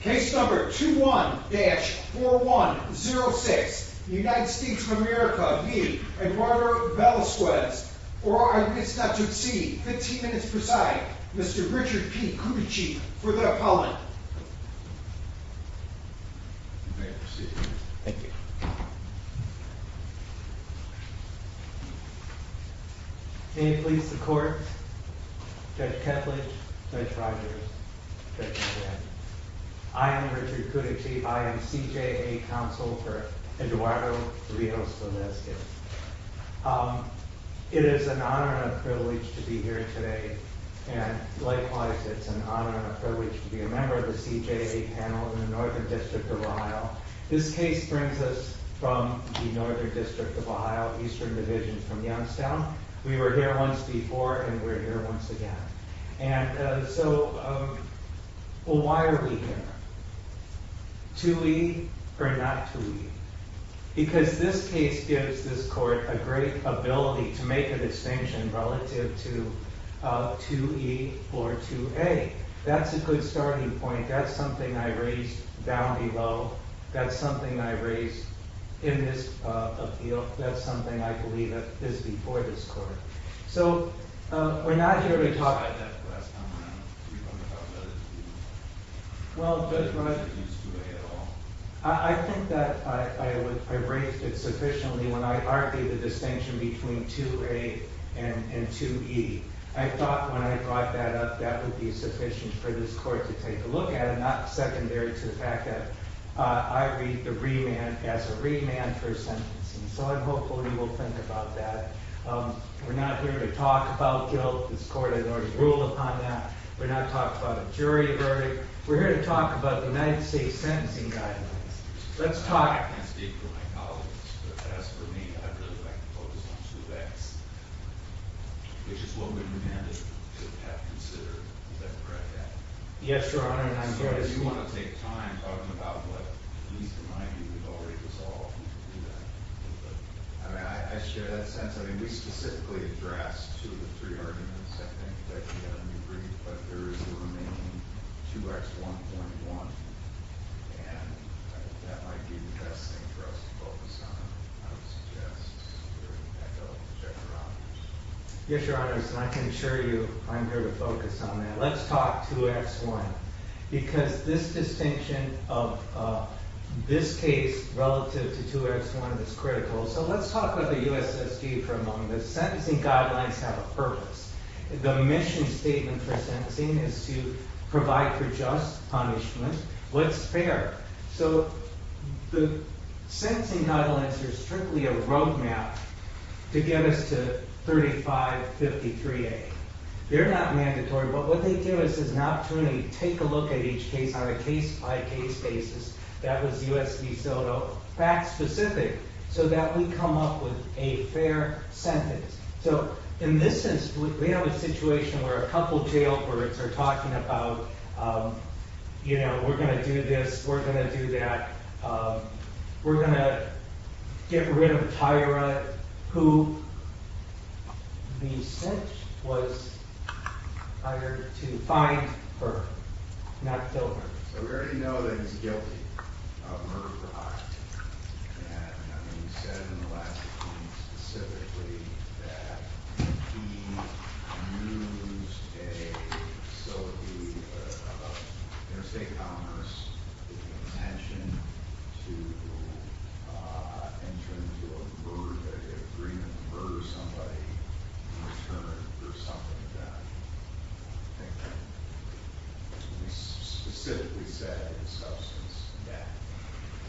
Case number 21-4106, United States of America v. Eduardo Velasquez. For our constituency, 15 minutes presiding, Mr. Richard P. Kuczyk for the appellant. You may proceed. Thank you. May it please the court, Judge Ketledge, Judge Rogers, Judge McGinn. I am Richard Kuczyk. I am CJA counsel for Eduardo Rios Velasquez. It is an honor and a privilege to be here today, and likewise it's an honor and a privilege to be a member of the CJA panel in the Northern District of Ohio. This case brings us from the Northern District of Ohio, Eastern Division from Youngstown. We were here once before, and we're here once again. And so, why are we here? 2E or not 2E? Because this case gives this court a great ability to make a distinction relative to 2E or 2A. That's a good starting point. That's something I raised down below. That's something I raised in this appeal. That's something I believe is before this court. So, we're not here to talk about that for the last time around. We want to talk about it. Well, Judge Rogers used 2A at all. I think that I raised it sufficiently when I argued the distinction between 2A and 2E. I thought when I brought that up, that would be sufficient for this court to take a look at it, not secondary to the fact that I read the remand as a remand for sentencing. So, I'm hopeful you will think about that. We're not here to talk about guilt. This court has already ruled upon that. We're not talking about a jury verdict. We're here to talk about the United States Sentencing Guidelines. Let's talk. I can't speak for my colleagues, but as for me, I'd really like to focus on 2X, which is what we've demanded to have considered. Is that correct? Yes, Your Honor. I'm sorry. I do want to take time talking about what needs to be resolved. I share that sense. I mean, we specifically addressed two of the three arguments. I think that we have a new brief, but there is the remaining 2X1.1, and that might be the best thing for us to focus on, I would suggest, if we're going to echo General Robbins. Yes, Your Honor, and I can assure you I'm here to focus on that. Let's talk 2X1, because this distinction of this case relative to 2X1 is critical. So, let's talk about the U.S.S.D. for a moment. The sentencing guidelines have a purpose. The mission statement for sentencing is to provide for just punishment. What's fair? So, the sentencing guidelines are strictly a roadmap to get us to 3553A. They're not mandatory, but what they do is an opportunity to take a look at each case on a case-by-case basis. That was U.S.S.D. Soto. Fact-specific, so that we come up with a fair sentence. So, in this instance, we have a situation where a couple jailbirds are talking about, you know, we're going to do this, we're going to do that, we're going to get rid of Tyra, who, being sent, was hired to find her, not kill her. So, we already know that he's guilty of murder for hire. And we said in the last meeting specifically that he used a facility, interstate commerce, with the intention to enter into a murder, an agreement to murder somebody in return for something of that nature. We specifically said it's substance to death.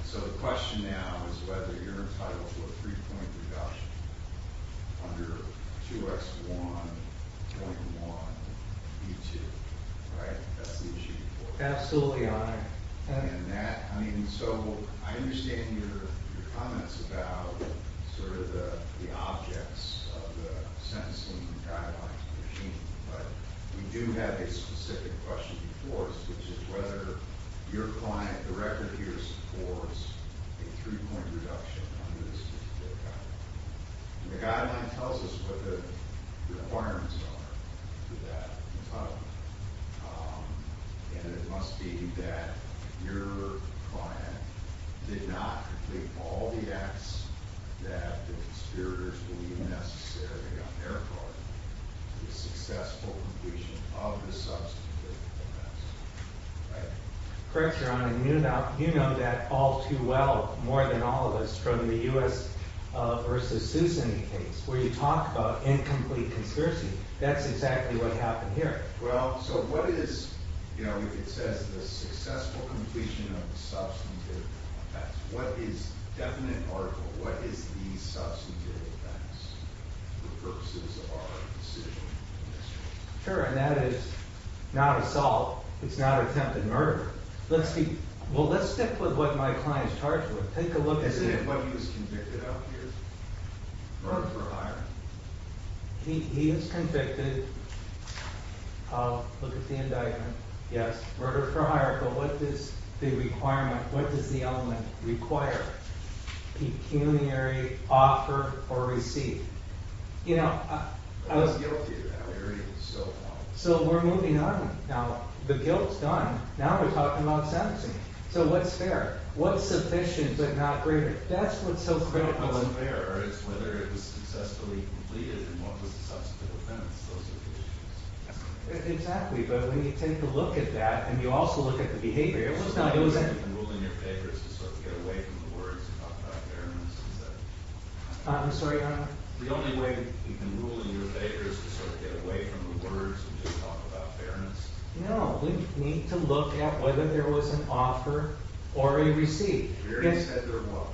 So, the question now is whether you're entitled to a three-point reduction under 2X1.1B2. Right? That's the issue. Absolutely, Your Honor. And that, I mean, so, I understand your comments about sort of the objects of the sentencing guidelines. But we do have a specific question before us, which is whether your client, the record here supports a three-point reduction under this particular guideline. And the guideline tells us what the requirements are for that. And it must be that your client did not complete all the acts that the conspirators believe necessary on their part for the successful completion of the substance of the offense. Right? Correct, Your Honor. You know that all too well, more than all of us, from the U.S. versus Susan case, where you talk about incomplete conspiracy. That's exactly what happened here. Well, so what is, you know, it says the successful completion of the substantive offense. What is definite article? What is the substantive offense for purposes of our decision in this case? Sure. And that is not a solve. It's not an attempted murder. Well, let's stick with what my client is charged with. Take a look at it. Isn't it what he was convicted of here? Murder for hire. He is convicted of, look at the indictment, yes, murder for hire. But what does the requirement, what does the element require? Pecuniary offer or receive. You know, I was guilty of that already, so. So we're moving on. Now, the guilt is done. Now we're talking about sentencing. So what's fair? What's sufficient but not greater? That's what's so critical. What's fair is whether it was successfully completed and what was the substantive offense. Those are the issues. Exactly, but when you take a look at that and you also look at the behavior, it was not. The only way you can rule in your favor is to sort of get away from the words and talk about fairness, is that it? I'm sorry, Your Honor? The only way you can rule in your favor is to sort of get away from the words and just talk about fairness. No, we need to look at whether there was an offer or a receive. The jury said there was.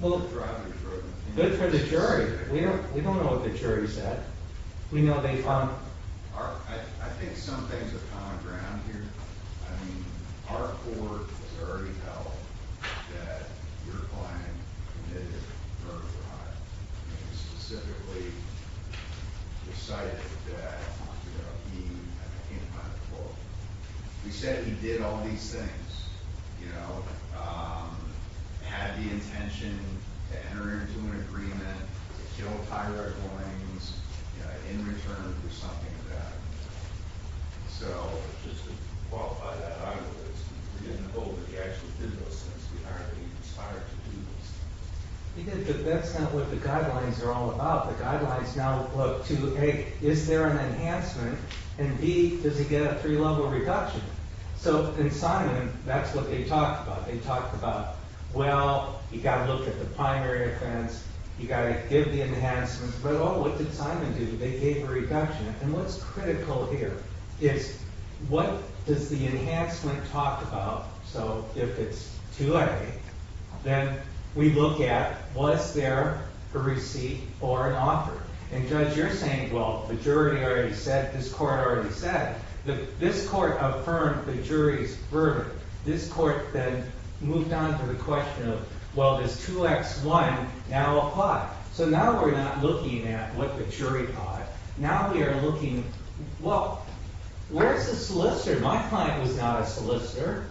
Well, good for the jury. We don't know what the jury said. We know they found. I think some things have come to ground here. I mean, our court has already held that your client committed murder, Your Honor, and specifically decided that he, I can't find the quote. He said he did all these things, you know, had the intention to enter into an agreement to kill Tyra Williams in return for something of that. So just to qualify that argument, we didn't know that he actually did those things. We aren't being inspired to do those things. He did, but that's not what the guidelines are all about. The guidelines now look to, A, is there an enhancement, and B, does he get a three-level reduction? So in Simon, that's what they talked about. They talked about, well, you've got to look at the primary offense. You've got to give the enhancements. But, oh, what did Simon do? They gave a reduction. And what's critical here is what does the enhancement talk about? So if it's 2A, then we look at was there a receipt or an offer? And, Judge, you're saying, well, the jury already said, this court already said. This court affirmed the jury's verdict. This court then moved on to the question of, well, does 2X1 now apply? So now we're not looking at what the jury thought. Now we are looking, well, where's the solicitor? My client was not a solicitor.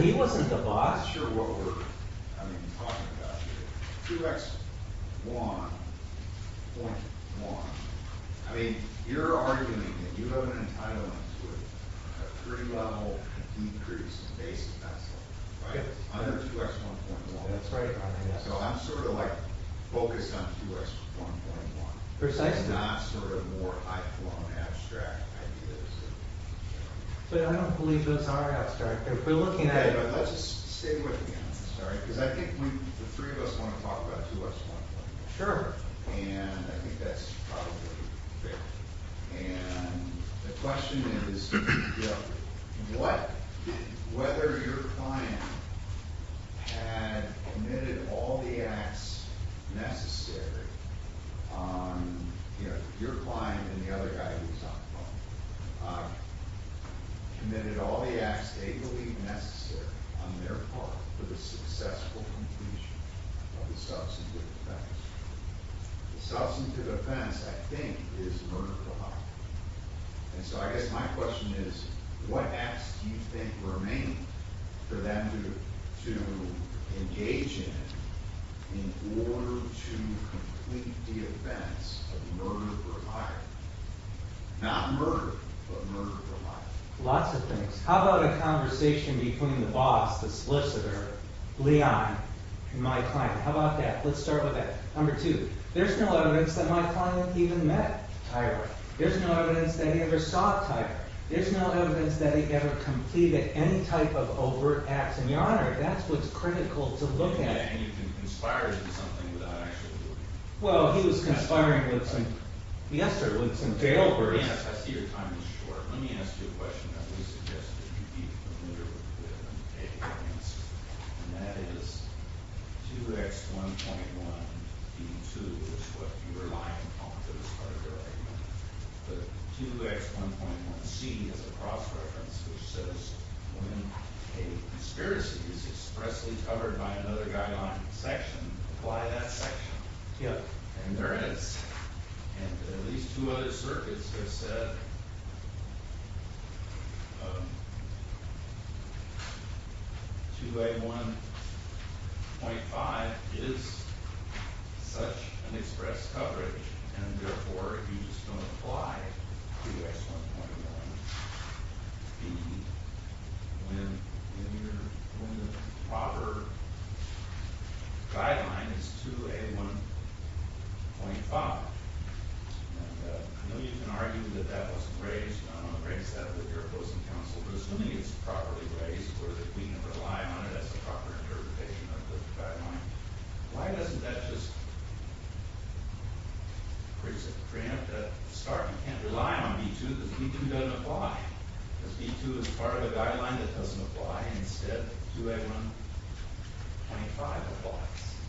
He wasn't the boss. I'm not sure what we're talking about here. 2X1.1. I mean, you're arguing that you have an entitlement to a three-level decrease in basis, right? Under 2X1.1. So I'm sort of, like, focused on 2X1.1. And not sort of more high-flown abstract ideas. But I don't believe those are abstract. Let's just stay with the answers, all right? Because I think the three of us want to talk about 2X1.1. Sure. And I think that's probably fair. And the question is, what, whether your client had committed all the acts necessary on, you know, and the other guy who's on the phone, committed all the acts they believe necessary on their part for the successful completion of the substance of offense. The substance of offense, I think, is murder for hire. And so I guess my question is, what acts do you think remain for them to engage in in order to complete the offense of murder for hire? Not murder, but murder for hire. Lots of things. How about a conversation between the boss, the solicitor, Leon, and my client? How about that? Let's start with that. Number two, there's no evidence that my client even met Tyra. There's no evidence that he ever saw Tyra. There's no evidence that he ever completed any type of overt acts. And, Your Honor, that's what's critical to look at. And you can conspire to do something without actually doing it. Well, he was conspiring with some, yes sir, with some jailbirds. I see your time is short. Let me ask you a question that we suggested you be familiar with. And that is 2X1.1B2 is what you were lying on at the start of your argument. But 2X1.1C is a cross-reference which says when a conspiracy is expressly covered by another guideline section, apply that section. Yep. And there is. And at least two other circuits have said 2A1.5 is such an express coverage and therefore you just don't apply 2X1.1B when the proper guideline is 2A1.5. And I know you can argue that that wasn't raised on a great set of your opposing counsels. Assuming it's properly raised or that we can rely on it as a proper interpretation of the guideline, why doesn't that just create a start? You can't rely on B2 because B2 doesn't apply. Because B2 is part of the guideline that doesn't apply. Instead, 2A1.25 applies.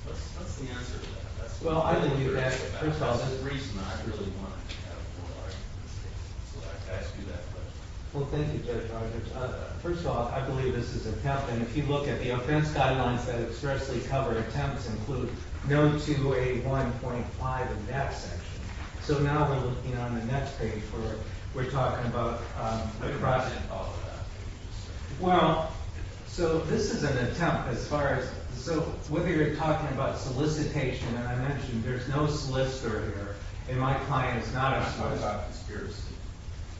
What's the answer to that? Well, I believe that, first of all, That's the reason I really wanted to have more arguments. So I'd like to ask you that question. Well, thank you, Judge Rogers. First of all, I believe this is a count. And if you look at the offense guidelines that expressly cover attempts, include no 2A1.5 in that section. So now we're looking on the next page where we're talking about the project. Well, so this is an attempt as far as whether you're talking about solicitation. And I mentioned there's no solicitor here. And my client is not a solicitor. I'm talking about conspiracy.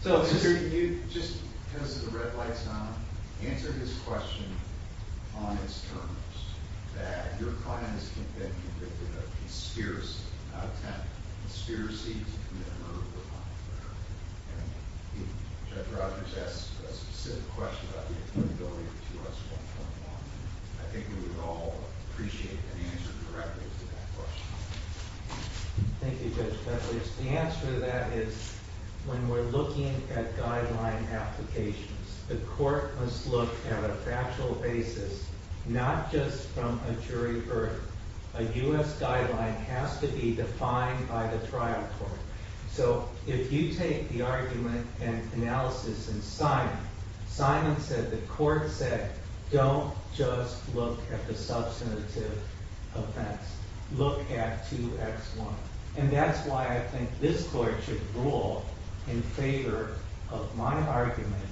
So could you just, because of the red lights on, answer this question on its terms, that your client has been convicted of conspiracy, an attempt, conspiracy to commit a murder or a crime, whatever. And if Judge Rogers asks a specific question about the affordability of 2S1.1, I think we would all appreciate an answer directly to that question. Thank you, Judge Keffley. The answer to that is when we're looking at guideline applications, the court must look at a factual basis, not just from a jury burden. A U.S. guideline has to be defined by the trial court. So if you take the argument and analysis in Simon, Simon said the court said don't just look at the substantive offense. Look at 2X1. And that's why I think this court should rule in favor of my argument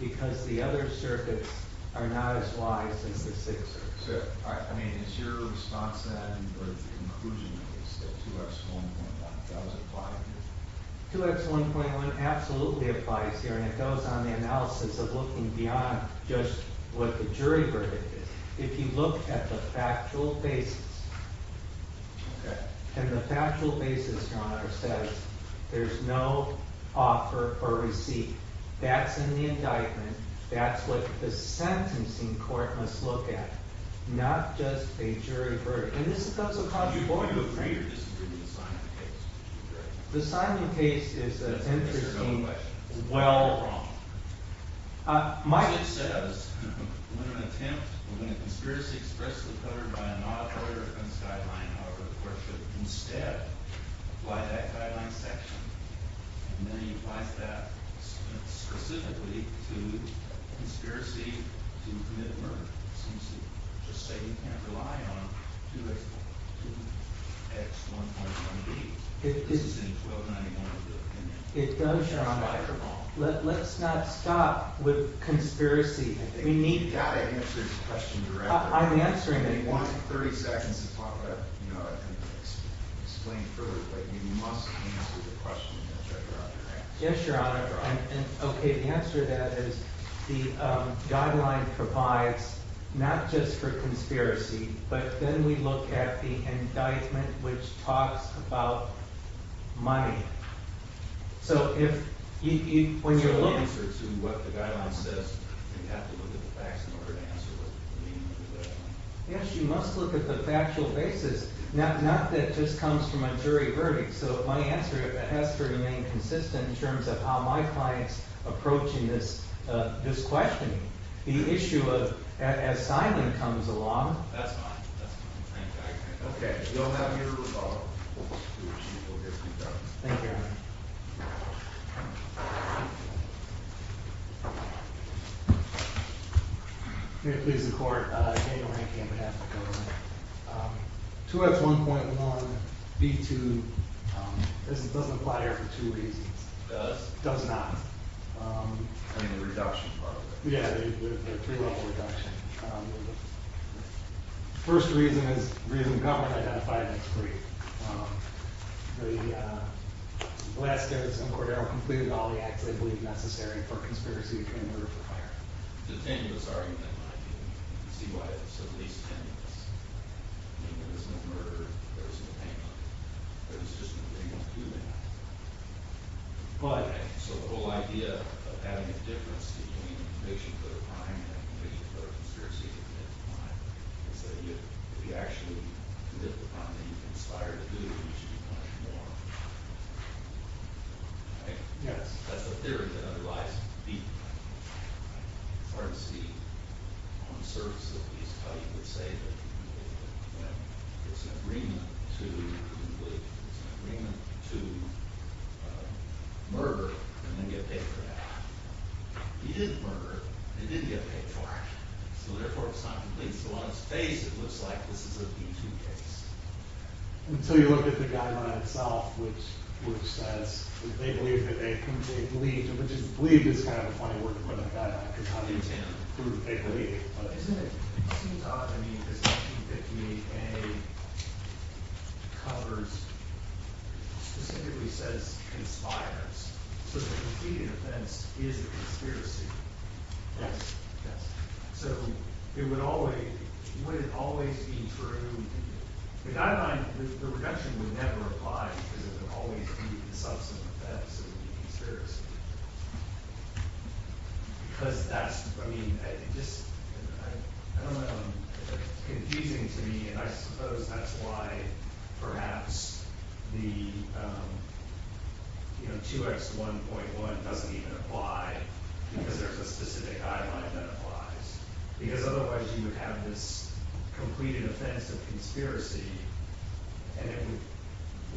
because the other circuits are not as wise as the Sixth Circuit. I mean, is your response to that in the conclusion of the case, that 2X1.1 does apply here? 2X1.1 absolutely applies here, and it goes on the analysis of looking beyond just what the jury verdict is. If you look at the factual basis, and the factual basis, Your Honor, says there's no offer or receipt. That's in the indictment. That's what the sentencing court must look at, not just a jury verdict. And this is not so controversial. Do you agree or disagree with the Simon case? The Simon case is an interesting well- It's a valid question. However, the court should instead apply that guideline section. And then it applies that specifically to conspiracy to commit murder. It seems to just say you can't rely on 2X1.1B. This is in 1291 of the opinion. It does, Your Honor. Let's not stop with conspiracy. We need to answer this question directly. I'm answering it. You want 30 seconds to talk about it and explain further, but you must answer the question that you're offering, right? Yes, Your Honor. Okay. The answer to that is the guideline provides not just for conspiracy, but then we look at the indictment, which talks about money. So if you- Yes, you must look at the factual basis, not that it just comes from a jury verdict. So my answer has to remain consistent in terms of how my client's approaching this question. The issue of-as Simon comes along- That's fine. Okay. Thank you, Your Honor. May it please the Court, Daniel Rankin on behalf of the government. 2X1.1B2 doesn't apply here for two reasons. It does? It does not. I mean the reduction part of it. Yeah, the three-level reduction. The first reason is the reason the government identified it as free. The Blaskos and Cordero completed all the acts they believed necessary for conspiracy between murder and fire. It's a tenuous argument. You can see why it's at least tenuous. There was no murder. There was no payment. There was just no payment to do that. So the whole idea of having a difference between conviction for a crime and conviction for a conspiracy to commit a crime is that if you actually commit the crime that you conspire to do, you should be punished more. Right? Yes. That's a theory that otherwise would be hard to see on the surface of these. How you would say that there's an agreement to complete. There's an agreement to murder and then get paid for that. He didn't murder, and he didn't get paid for it. So therefore, it's not complete. So on its face, it looks like this is a B-2 case. Until you look at the guideline itself, which says that they believed that they couldn't take the lead, which is, believe is kind of a funny word for the guideline, because how do you tell who they believe? Isn't it? It seems odd. I mean, there's nothing that the A covers. It specifically says conspires. So the completed offense is a conspiracy. Yes. Yes. So it would always be true. The guideline, the reduction would never apply because it would always be a subsequent offense. It would be a conspiracy. Because that's, I mean, it just, I don't know. It's confusing to me. And I suppose that's why perhaps the, you know, 2X1.1 doesn't even apply, because there's a specific guideline that applies. Because otherwise, you would have this completed offense of conspiracy, and it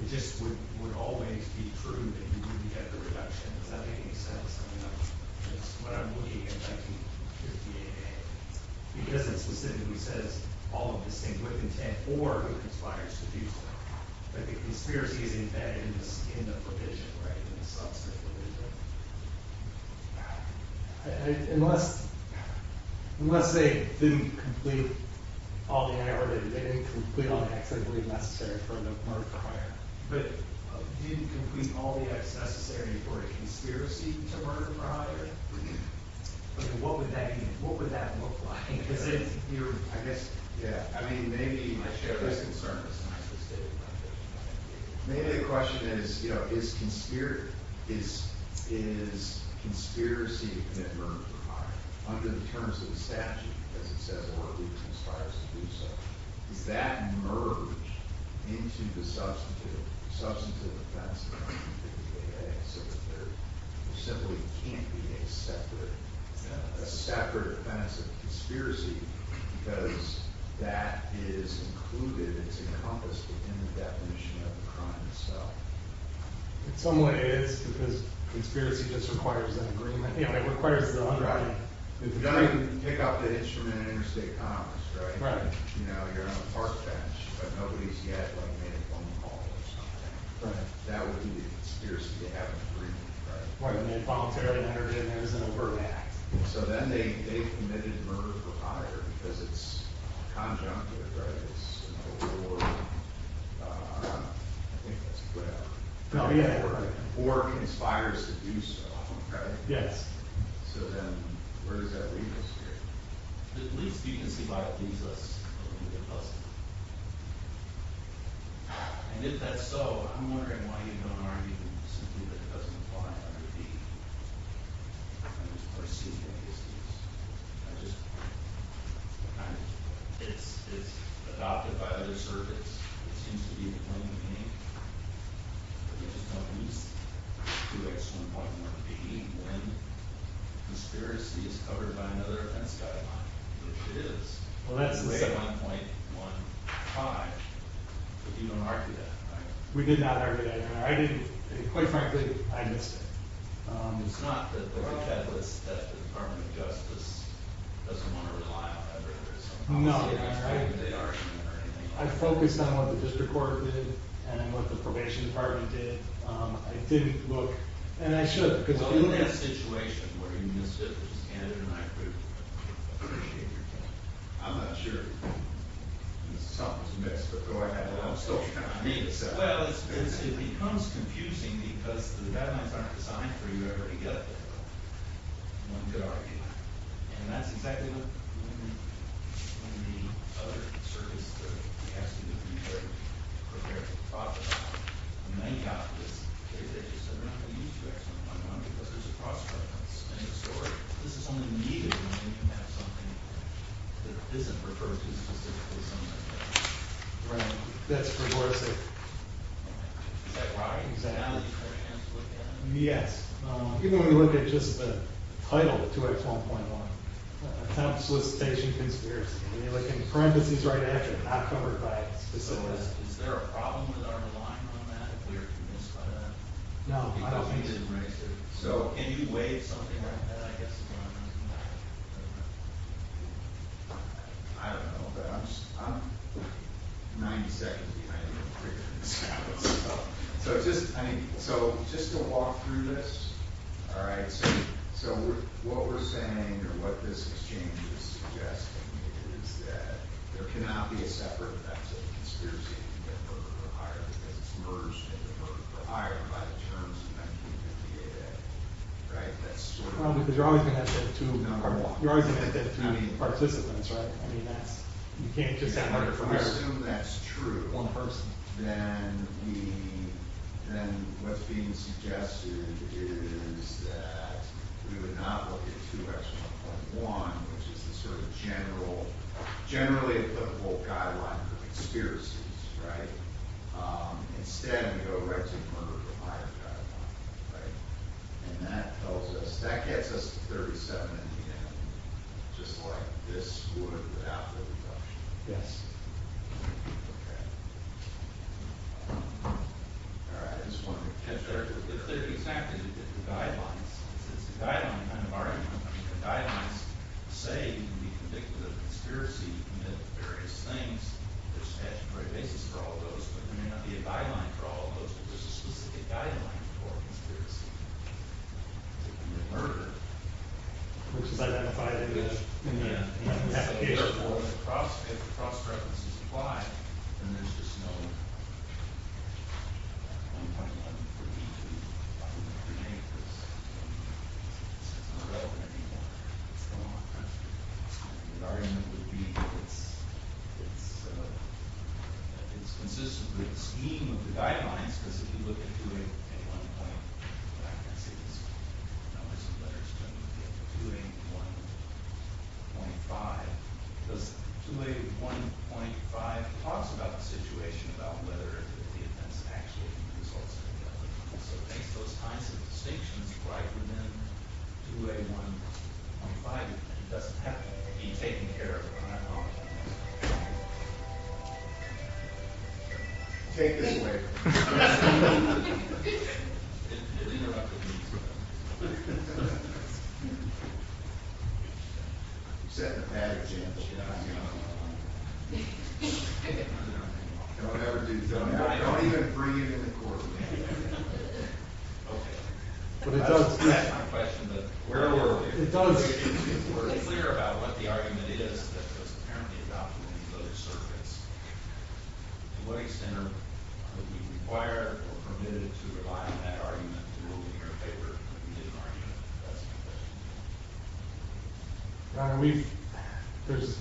just would always be true that you wouldn't get the reduction. Does that make any sense? That's what I'm looking at 1958A. Because it specifically says all of the same with intent or who conspires to do so. But the conspiracy is embedded in the provision, right, in the subscript. Unless they didn't complete all the, or they didn't complete all the X that would be necessary for the murder prior. But didn't complete all the X necessary for a conspiracy to murder prior? What would that mean? What would that look like? Because if you're, I guess, yeah. I mean, maybe. I share his concerns. Maybe the question is, you know, is conspiracy to commit murder prior? Under the terms of the statute, as it says, or who conspires to do so. Does that merge into the substantive offense of 1958A? There simply can't be a separate offense of conspiracy, because that is included. It's encompassed within the definition of the crime itself. It somewhat is, because conspiracy just requires an agreement. Yeah, it requires the underwriting. You can pick up the instrument at interstate commerce, right? Right. You know, you're on the park bench, but nobody's yet made a phone call or something. Right. That would be the conspiracy to have an agreement, right? Right. And they voluntarily murdered him. It was an overt act. So then they committed murder prior, because it's conjunctive, right? It's an overt order. I think that's what it is. Oh, yeah. Or conspires to do so, right? Yes. So then where does that leave us here? At least you can see why it leaves us a little bit less. And if that's so, I'm wondering why you don't argue simply that it doesn't apply under the first two cases. It's adopted by other circuits. It seems to be the plaintiff, which is companies 2X1.1B, when conspiracy is covered by another offense guideline, which it is. Well, that's the second one. 2X1.15, but you don't argue that, right? We did not argue that. I didn't. Quite frankly, I missed it. It's not that the Department of Justice doesn't want to rely on that. No, you're right. I focused on what the district court did and what the probation department did. I didn't look. And I should. Well, in that situation where you missed it, which is standard in my group, I appreciate your time. I'm not sure. This is something that was missed before I had a long story time. I made it so. Well, it becomes confusing because the guidelines aren't designed for you ever to get there. One could argue. And that's exactly what we're looking at in the other service that we have to do to prepare for the process. And they got this case. They just said they're not going to use 2X1.1 because there's a cross reference in the story. This is something needed when you have something that isn't referred to specifically as 2X1. Right. That's precursor. Is that right? Exactly. Is there a chance to look at it? Yes. Even when we look at just the title of 2X1.1. Attempt solicitation conspiracy. We look in parentheses right after. Not covered by specifics. Is there a problem with our line on that? We are convinced by that. No, I don't think so. Because we didn't raise it. So can you waive something like that? I guess is what I'm asking about. I don't know. But I'm 90 seconds behind to figure this out. So just to walk through this. All right. So what we're saying or what this exchange is suggesting is that there cannot be a separate effect of the conspiracy to get the voter to hire because it's merged in the voter to hire by the terms of 1958A. Right? Because you're always going to have to have two participants. Right? You can't just have one person. If we assume that's true, then what's being suggested is that we would not look at 2X1.1, which is the sort of generally applicable guideline for conspiracies. Right? Instead, we go right to the voter to hire guideline. Right? And that tells us, that gets us to 37 in the end. Just like this would without the reduction. Yes? Okay. All right. I just wanted to make sure. It's clear exactly the different guidelines. It's a guideline kind of argument. The guidelines say you can be convicted of a conspiracy to commit various things. There's a statutory basis for all of those. But there may not be a guideline for all of those. But there's a specific guideline for a conspiracy to commit murder. Of course, it's identified in the application. Therefore, if cross-references apply, then there's just no 1.1 for each of these. I wouldn't have to make this. It's not relevant anymore. It's gone. The argument would be that it's consistent with the scheme of the guidelines. Because if you look at 2A1.5, it talks about the situation, about whether the offense actually results in a felony. So it makes those kinds of distinctions right within 2A1.5. It doesn't have to be taken care of. Take this away from me. I'm setting a bad example. And whatever it is, don't even bring it into court. Okay. That's my question. If we're clear about what the argument is that was apparently adopted in those circuits, to what extent are we required or permitted to rely on that argument to rule in your favor? That's my question. Your Honor, there's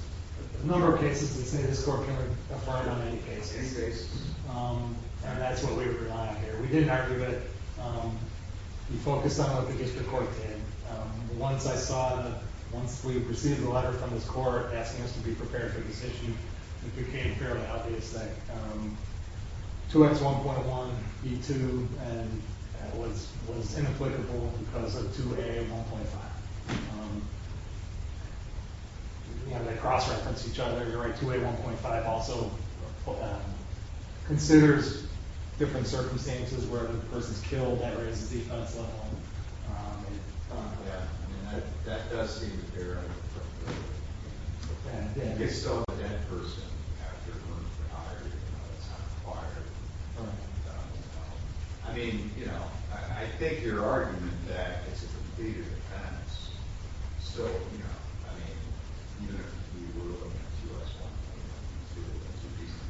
a number of cases that say this court can't apply to any case. And that's what we rely on here. We didn't argue it. We focused on what the district court did. Once I saw it, once we received a letter from this court asking us to be prepared for this issue, it became fairly obvious that 2X1.1E2 was inapplicable because of 2A1.5. You know, they cross-reference each other. You're right. 2A1.5 also considers different circumstances where the person's killed. That raises the offense level. Yeah. I mean, that does seem fair. And if so, the dead person after the murder is not required. I mean, you know, I think your argument that it's a completed offense still, you know, I mean, even if we were to look at 2X1.1E2 as a reason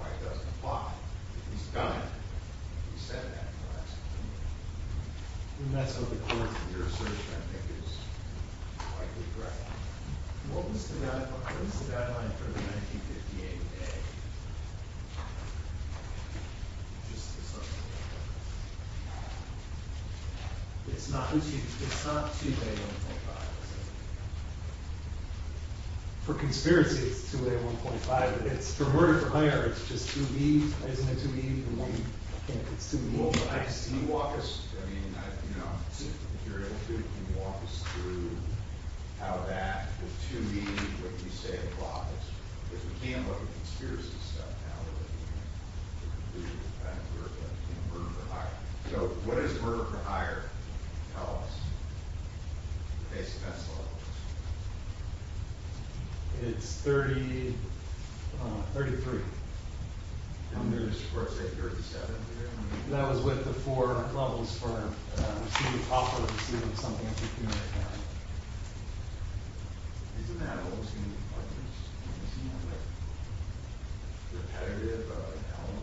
why it doesn't apply, if he's done it, he said that, correct? I mean, that's what the court, in your assertion, I think is likely correct. What was the guideline for the 1958A? It's not 2A1.5, is it? For conspiracy, it's 2A1.5. But for murder, for hire, it's just 2B. Isn't it 2B? It's 2A1.5. Can you walk us, I mean, you know, if you're able to, can you walk us through how that with 2B, what you say applies? Because we can't look at conspiracy stuff now. We're looking at murder for hire. So what is murder for hire? Tell us. It's 33. And there's, of course, 837. That was with the four levels firm. We've seen it before. We've seen it with something else. Isn't that what was going to be part of it? Repetitive element?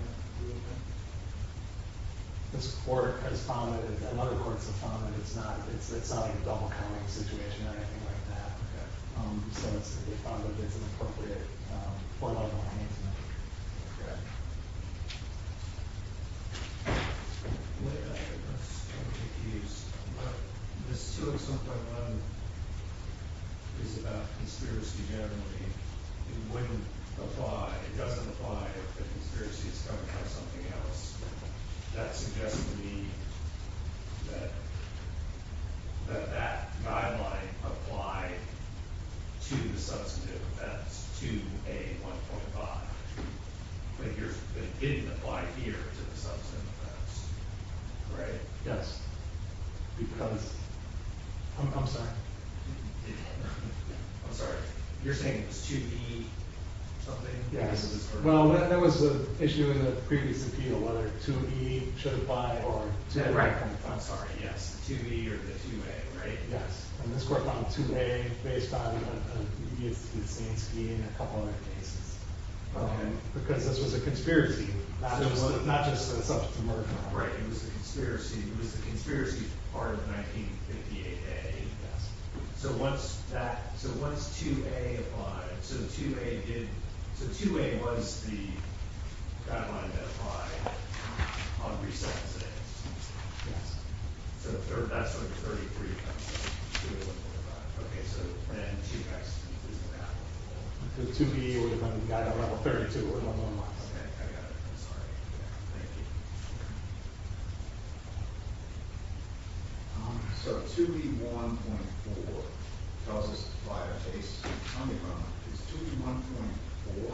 This court has found that it's not a double counting situation or anything like that. Okay. So they found that it's an appropriate four-level arrangement. Okay. This 2A1.1 is about conspiracy generally. It wouldn't apply. It doesn't apply if the conspiracy is covered by something else. That suggests to me that that guideline applied to the substantive offense, 2A1.5. But it didn't apply here to the substantive offense. Right. Yes. Because? I'm sorry. I'm sorry. You're saying it was 2B something? Yes. Well, there was an issue in the previous appeal, whether 2B should apply or 2A. Right. I'm sorry. Yes. The 2B or the 2A, right? Yes. And this court found 2A based on a media consistency in a couple other cases. Okay. Because this was a conspiracy, not just a substantive murder. Right. It was a conspiracy. It was a conspiracy part of 1958A. Yes. So once that – so once 2A applied – so 2A did – so 2A was the guideline that applied on resettless innocence. Yes. So that's like 33. Okay. So then she has to do that one more time. The 2B or the 32. Okay. I got it. I'm sorry. Thank you. Okay. So 2B1.4 tells us to apply a case on the ground. Is 2B1.4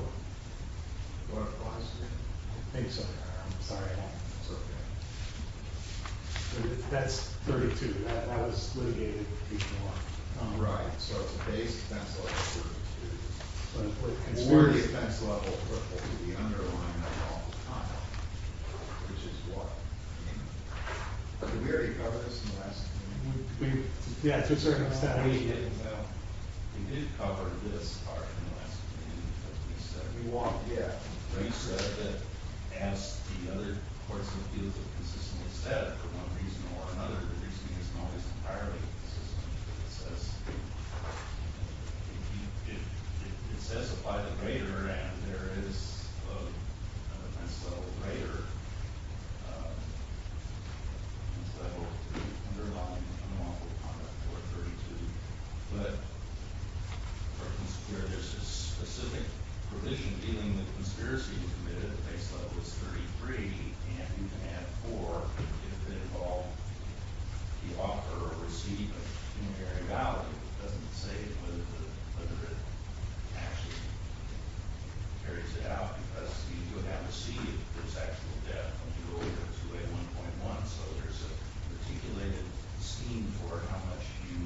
what applies here? I think so. I'm sorry. That's okay. That's 32. That was litigated before. Right. So it's a base offense level of 32. But it's more the offense level that would be underlined all the time, which is what? I mean, we already covered this in the last meeting. Yeah, it's a circumstance. We did cover this part in the last meeting. We walked, yeah. Well, you said that as the other courts of appeals have consistently said, for one reason or another, the reasoning isn't always entirely consistent. It says apply the grader, and there is an offense level grader. It's the underlying unlawful conduct for a 32. But where there's a specific provision dealing with conspiracy to commit it, the base level is 33, and you can add 4 if it involved the offer or receipt of humanitarian value. It doesn't say whether it actually carries it out, because you would have to see if there's actual debt when you go over 2A1.1. So there's a articulated scheme for how much you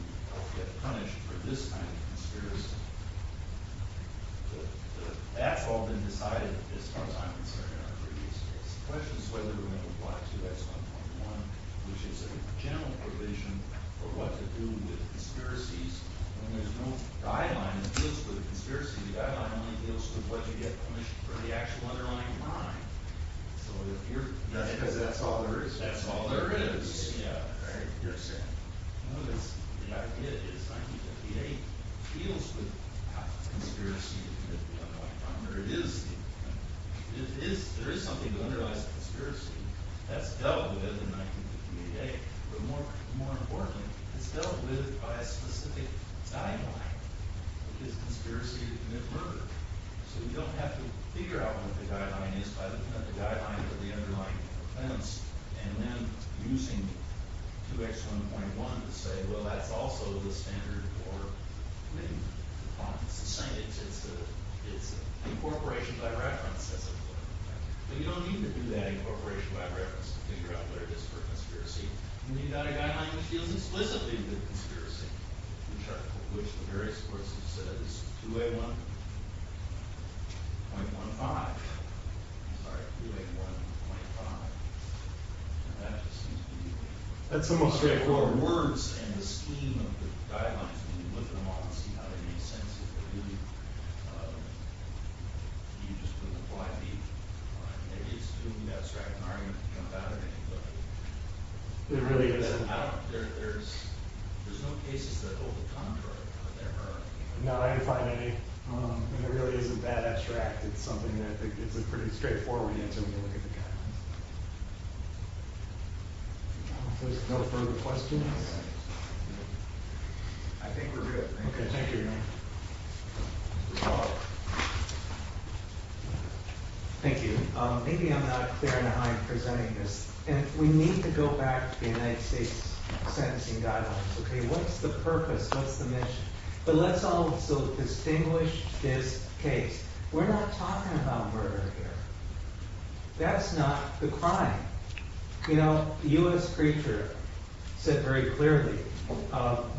get punished for this kind of conspiracy. That's all been decided as far as I'm concerned in our previous case. The question is whether we're going to apply 2X1.1, which is a general provision for what to do with conspiracies. When there's no guideline that deals with a conspiracy, the guideline only deals with what you get punished for the actual underlying crime. That's because that's all there is. That's all there is. Yeah, right. You're saying? No, the idea is 1958 deals with conspiracy to commit the underlying crime. There is something to underlies conspiracy. That's dealt with in 1958. But more importantly, it's dealt with by a specific guideline, which is conspiracy to commit murder. So you don't have to figure out what the guideline is by looking at the guideline for the underlying offense and then using 2X1.1 to say, well, that's also the standard for committing a crime. It's the same. It's incorporation by reference, as it were. But you don't need to do that incorporation by reference to figure out what it is for a conspiracy. When you've got a guideline which deals explicitly with a conspiracy, which the various courts have said is 2A1.15. I'm sorry, 2A1.5. And that just seems to be the most straightforward words in the scheme of the guidelines. When you look at them all and see how they make sense, if they really do, you just look at 5B. All right, maybe it's too abstract an argument to jump out at anything. It really isn't. There's no cases that hold the contrary. No, I didn't find any. And it really isn't that abstract. It's something that's a pretty straightforward answer when you look at the guidelines. There's no further questions? I think we're good. Okay, thank you. Thank you. Maybe I'm not there in the high presenting this. And we need to go back to the United States sentencing guidelines. Okay, what's the purpose? What's the mission? But let's also distinguish this case. We're not talking about murder here. That's not the crime. You know, the US preacher said very clearly,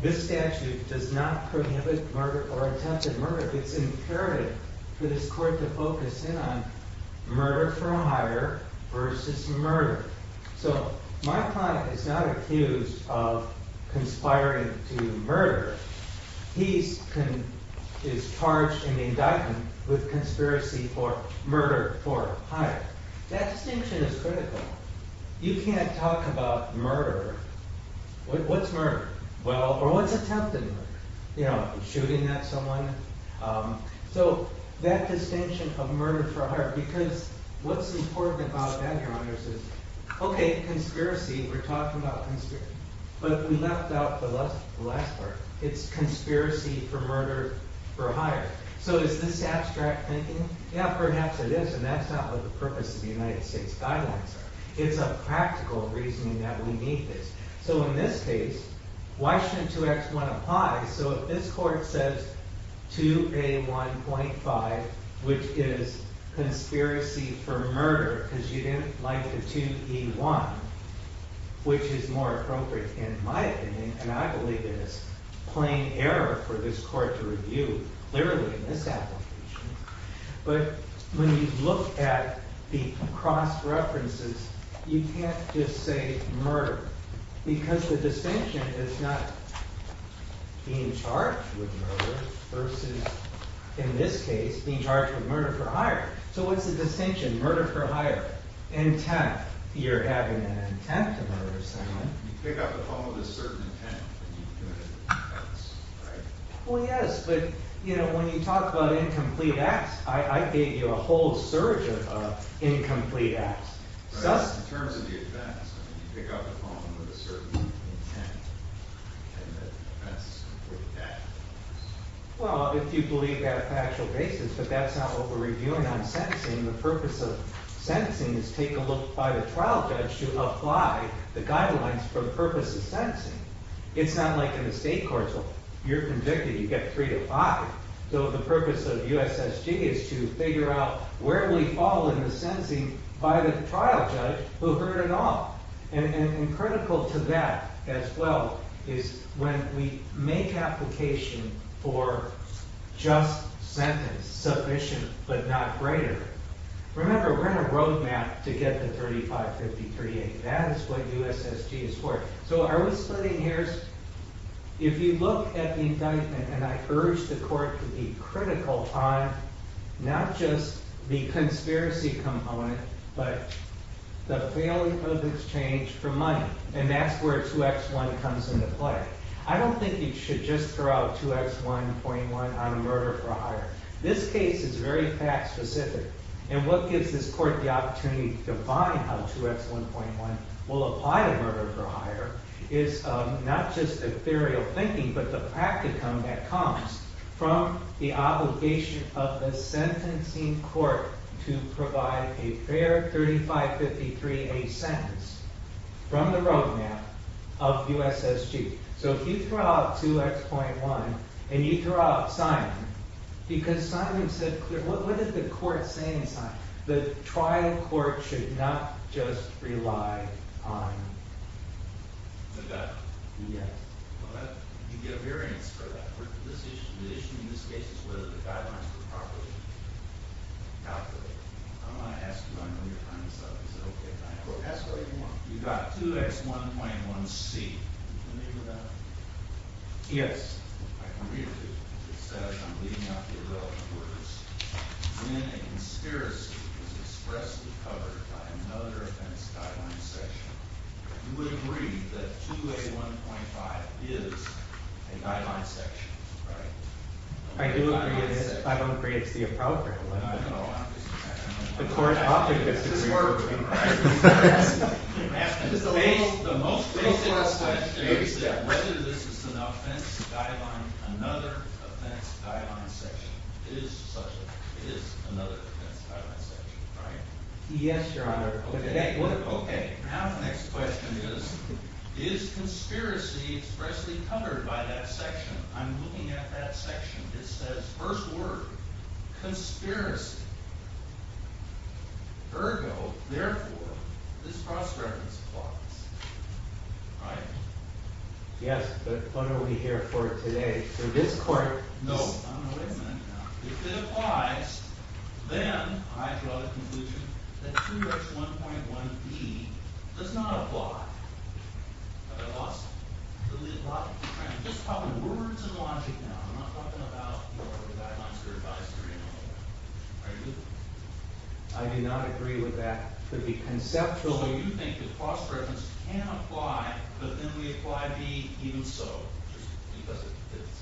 this statute does not prohibit murder or attempted murder. It's imperative for this court to focus in on murder for hire versus murder. So my client is not accused of conspiring to murder. He is charged in the indictment with conspiracy for murder for hire. That distinction is critical. You can't talk about murder. What's murder? Or what's attempted murder? You know, shooting at someone. So that distinction of murder for hire. Because what's important about that, Your Honor, is okay, conspiracy. We're talking about conspiracy. But we left out the last part. It's conspiracy for murder for hire. So is this abstract thinking? Yeah, perhaps it is. And that's not what the purpose of the United States guidelines are. It's a practical reasoning that we need this. So in this case, why shouldn't 2X1 apply? So if this court says 2A1.5, which is conspiracy for murder because you didn't like the 2E1, which is more appropriate in my opinion, and I believe it is, plain error for this court to review, clearly in this application. But when you look at the cross-references, you can't just say murder because the distinction is not being charged with murder versus, in this case, being charged with murder for hire. So what's the distinction? Murder for hire. Intent. You're having an intent to murder someone. You pick up the phone with a certain intent. Well, yes, but when you talk about incomplete acts, I gave you a whole surge of incomplete acts. In terms of the offense, you pick up the phone with a certain intent and the offense is completely factual. Well, if you believe that a factual basis, but that's not what we're reviewing on sentencing. The purpose of sentencing is take a look by the trial judge to apply the guidelines for the purpose of sentencing. It's not like in the state courts. You're convicted. You get three to five. By the trial judge who heard it all. And critical to that, as well, is when we make application for just sentence, sufficient but not greater. Remember, we're in a roadmap to get to 3553A. That is what USSG is for. So are we splitting hairs? If you look at the indictment, and I urge the court to be critical upon not just the conspiracy component, but the failure of exchange for money. And that's where 2X1 comes into play. I don't think you should just throw out 2X1.1 on murder for hire. This case is very fact specific. And what gives this court the opportunity to define how 2X1.1 will apply to murder for hire is not just ethereal thinking, but the practicum that comes from the obligation of the sentencing court to provide a fair 3553A sentence from the roadmap of USSG. So if you throw out 2X.1, and you throw out Simon, because Simon said clearly, what is the court saying, Simon? The trial court should not just rely on the death. But you get a variance for that. The issue in this case is whether the guidelines were properly calculated. I'm going to ask you, I know you're trying to solve this. Ask what you want. You've got 2X1.1C. Can you read that? Yes. I can read it to you. It says, I'm leaving out the irrelevant words. When a conspiracy is expressly covered by another offense guideline section, you would agree that 2A1.5 is a guideline section, right? I do agree it is. I don't agree it's the appropriate one. No, no. The court objected to the agreement. The most basic question is that whether this is an offense guideline, another offense guideline section is another offense guideline section, right? Yes, Your Honor. Okay. Now the next question is, is conspiracy expressly covered by that section? I'm looking at that section. It says, first word, conspiracy. Ergo, therefore, this cross-reference applies, right? Yes, but when are we here for today? For this court? No. I'm going to wait a minute now. If it applies, then I draw the conclusion that 2H1.1B does not apply. Have I lost it? I'm just talking words and logic now. I'm not talking about your guidelines or advisory or anything like that. Are you? I do not agree with that. It could be conceptual. You think the cross-reference can apply, but then we apply B even so, just because it fits.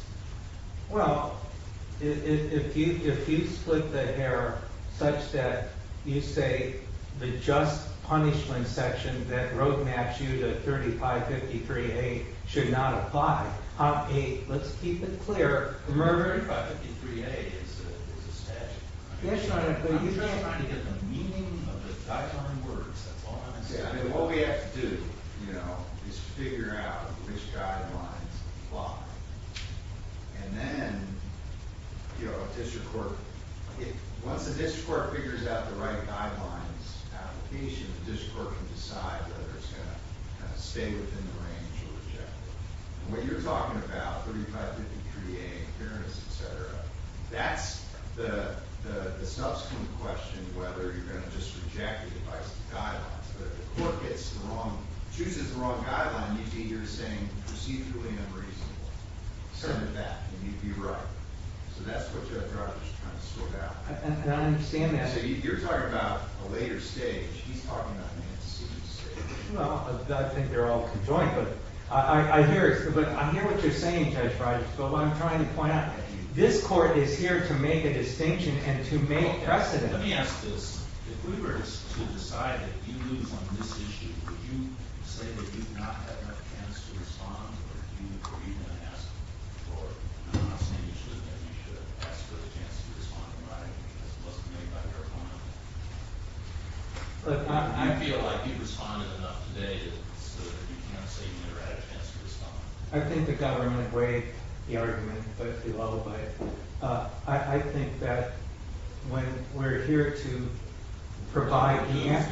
Well, if you split the hair such that you say the just punishment section that roadmaps you to 3553A should not apply, let's keep it clear. 3553A is a statute. Yes, Your Honor. I'm just trying to get the meaning of the guideline words. That's all I'm saying. What we have to do is figure out which guidelines apply. And then once the district court figures out the right guidelines application, the district court can decide whether it's going to stay within the range or reject it. What you're talking about, 3553A, fairness, et cetera, that's the subsequent question whether you're going to just reject it if it satisfies the guidelines. But if the court gets the wrong, chooses the wrong guideline, you're saying procedurally unreasonable. Certainly that. And you'd be right. So that's what Judge Rogers is trying to sort out. And I understand that. So you're talking about a later stage. He's talking about an antecedent stage. Well, I think they're all conjoined. But I hear what you're saying, Judge Rogers. But what I'm trying to point out, this court is here to make a distinction and to make precedent. Let me ask this. If we were to decide that you lose on this issue, would you say that you've not had enough chance to respond, or are you going to ask for it? I'm not saying you shouldn't, but you should have asked for the chance to respond in writing because it wasn't made by your opponent. Do you feel like you responded enough today so that you can't say you never had a chance to respond? I think the government weighed the argument, but it's be leveled by it. I think that when we're here to provide the answer...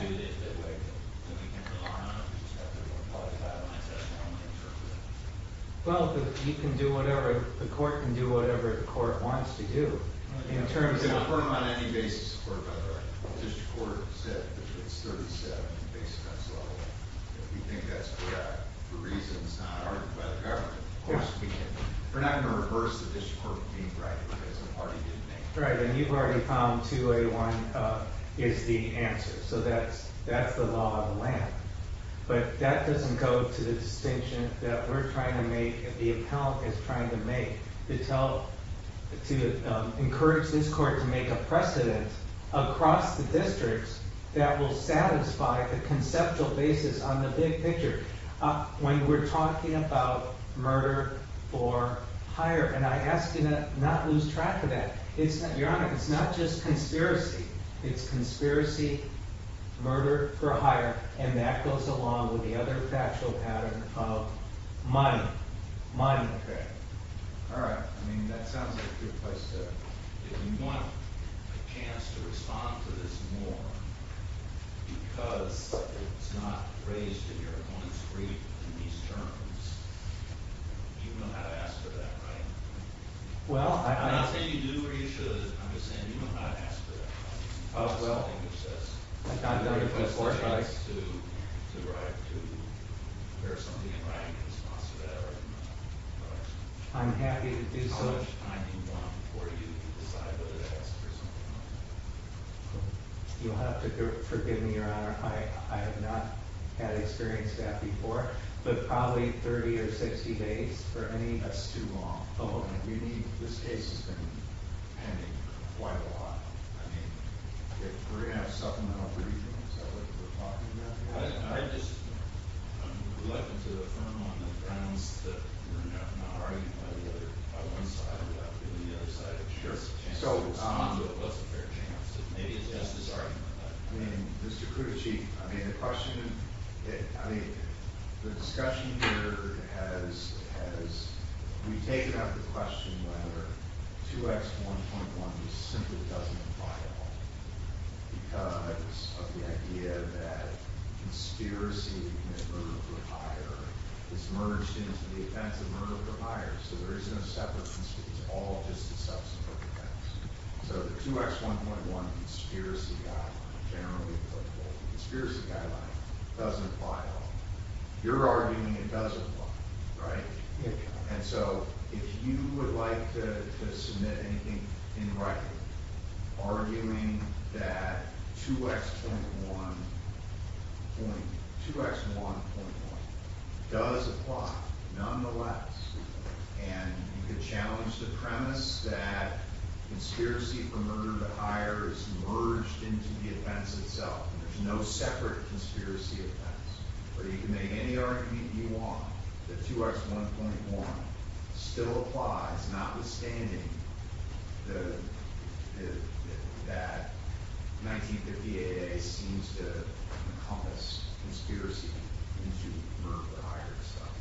Well, the court can do whatever the court wants to do in terms of... We can affirm on any basis the court by the right. The district court said that it's 37 based on its level. We think that's correct for reasons not argued by the government. We're not going to reverse the district court for being right because it already did make it. Right, and you've already found 2A1 is the answer, so that's the law of the land. But that doesn't go to the distinction that we're trying to make and the appellant is trying to make to encourage this court to make a precedent across the districts that will satisfy the conceptual basis on the big picture. When we're talking about murder for hire, and I ask you to not lose track of that. Your Honor, it's not just conspiracy. It's conspiracy, murder for hire, and that goes along with the other factual pattern of money. All right, that sounds like a good place to... If you want a chance to respond to this more because it's not raised in your own street in these terms, you know how to ask for that, right? Well, I... I'm not saying you do or you should. I'm just saying you know how to ask for that, right? Oh, well... I'm happy to do so. How much time do you want before you decide whether to ask for something? You'll have to forgive me, Your Honor. I have not had experience with that before, but probably 30 or 60 days for any... That's too long. Oh, and you need... This case has been pending quite a lot. I mean, we're going to have supplemental briefings, is that what you were talking about? I just would like to affirm on the grounds that we're not arguing by one side, we're arguing on the other side. Sure. So... I mean, Mr. Kucich, I mean, the question... I mean, the discussion here has... We've taken up the question whether 2X1.1 simply doesn't apply at all because of the idea that conspiracy to commit murder for hire is merged into the offense of murder for hire, so there isn't a separate... It's all just a subsequent offense. So the 2X1.1 conspiracy guideline, generally applicable conspiracy guideline, doesn't apply at all. You're arguing it does apply, right? Yeah. And so if you would like to submit anything in writing arguing that 2X1.1 does apply, nonetheless, and you could challenge the premise that conspiracy for murder for hire is merged into the offense itself, and there's no separate conspiracy offense, or you can make any argument you want that 2X1.1 still applies, notwithstanding that 1958A seems to encompass conspiracy into murder for hire itself,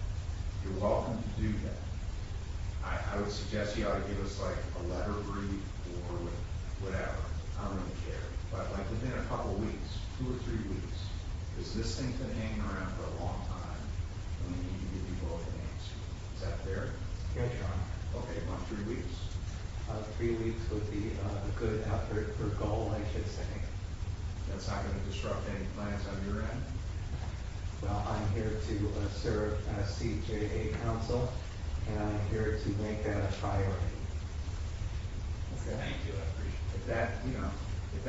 you're welcome to do that. I would suggest you ought to give us, like, a letter brief or whatever. I don't really care. But, like, within a couple weeks, two or three weeks, because this thing's been hanging around for a long time, we need to give you both an answer. Is that fair? Yes, Your Honor. Okay, how about three weeks? Three weeks would be a good effort, or goal, I should say. That's not going to disrupt any plans on your end. Well, I'm here to serve as CJA counsel, and I'm here to make that a priority. Thank you, I appreciate it.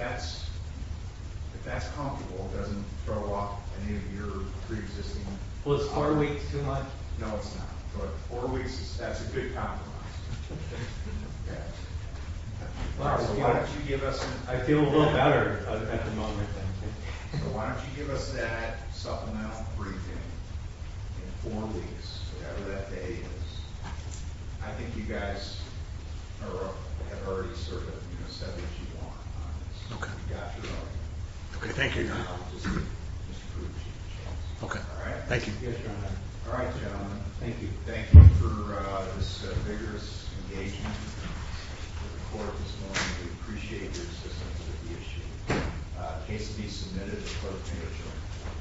If that's comfortable, it doesn't throw off any of your preexisting... Well, is four weeks too much? No, it's not. But four weeks, that's a good compromise. Why don't you give us... I feel a little better at the moment, thank you. So why don't you give us that supplemental briefing in four weeks, whatever that day is. I think you guys have already sort of said what you want. Okay. We got your argument. Okay, thank you, Your Honor. Now, I'll just give Mr. Pruitt a chance. Okay. All right? Yes, Your Honor. All right, gentlemen, thank you. Thank you for this vigorous engagement with the court this morning. We appreciate your assistance with the issue. The case will be submitted to the court of appeals, Your Honor.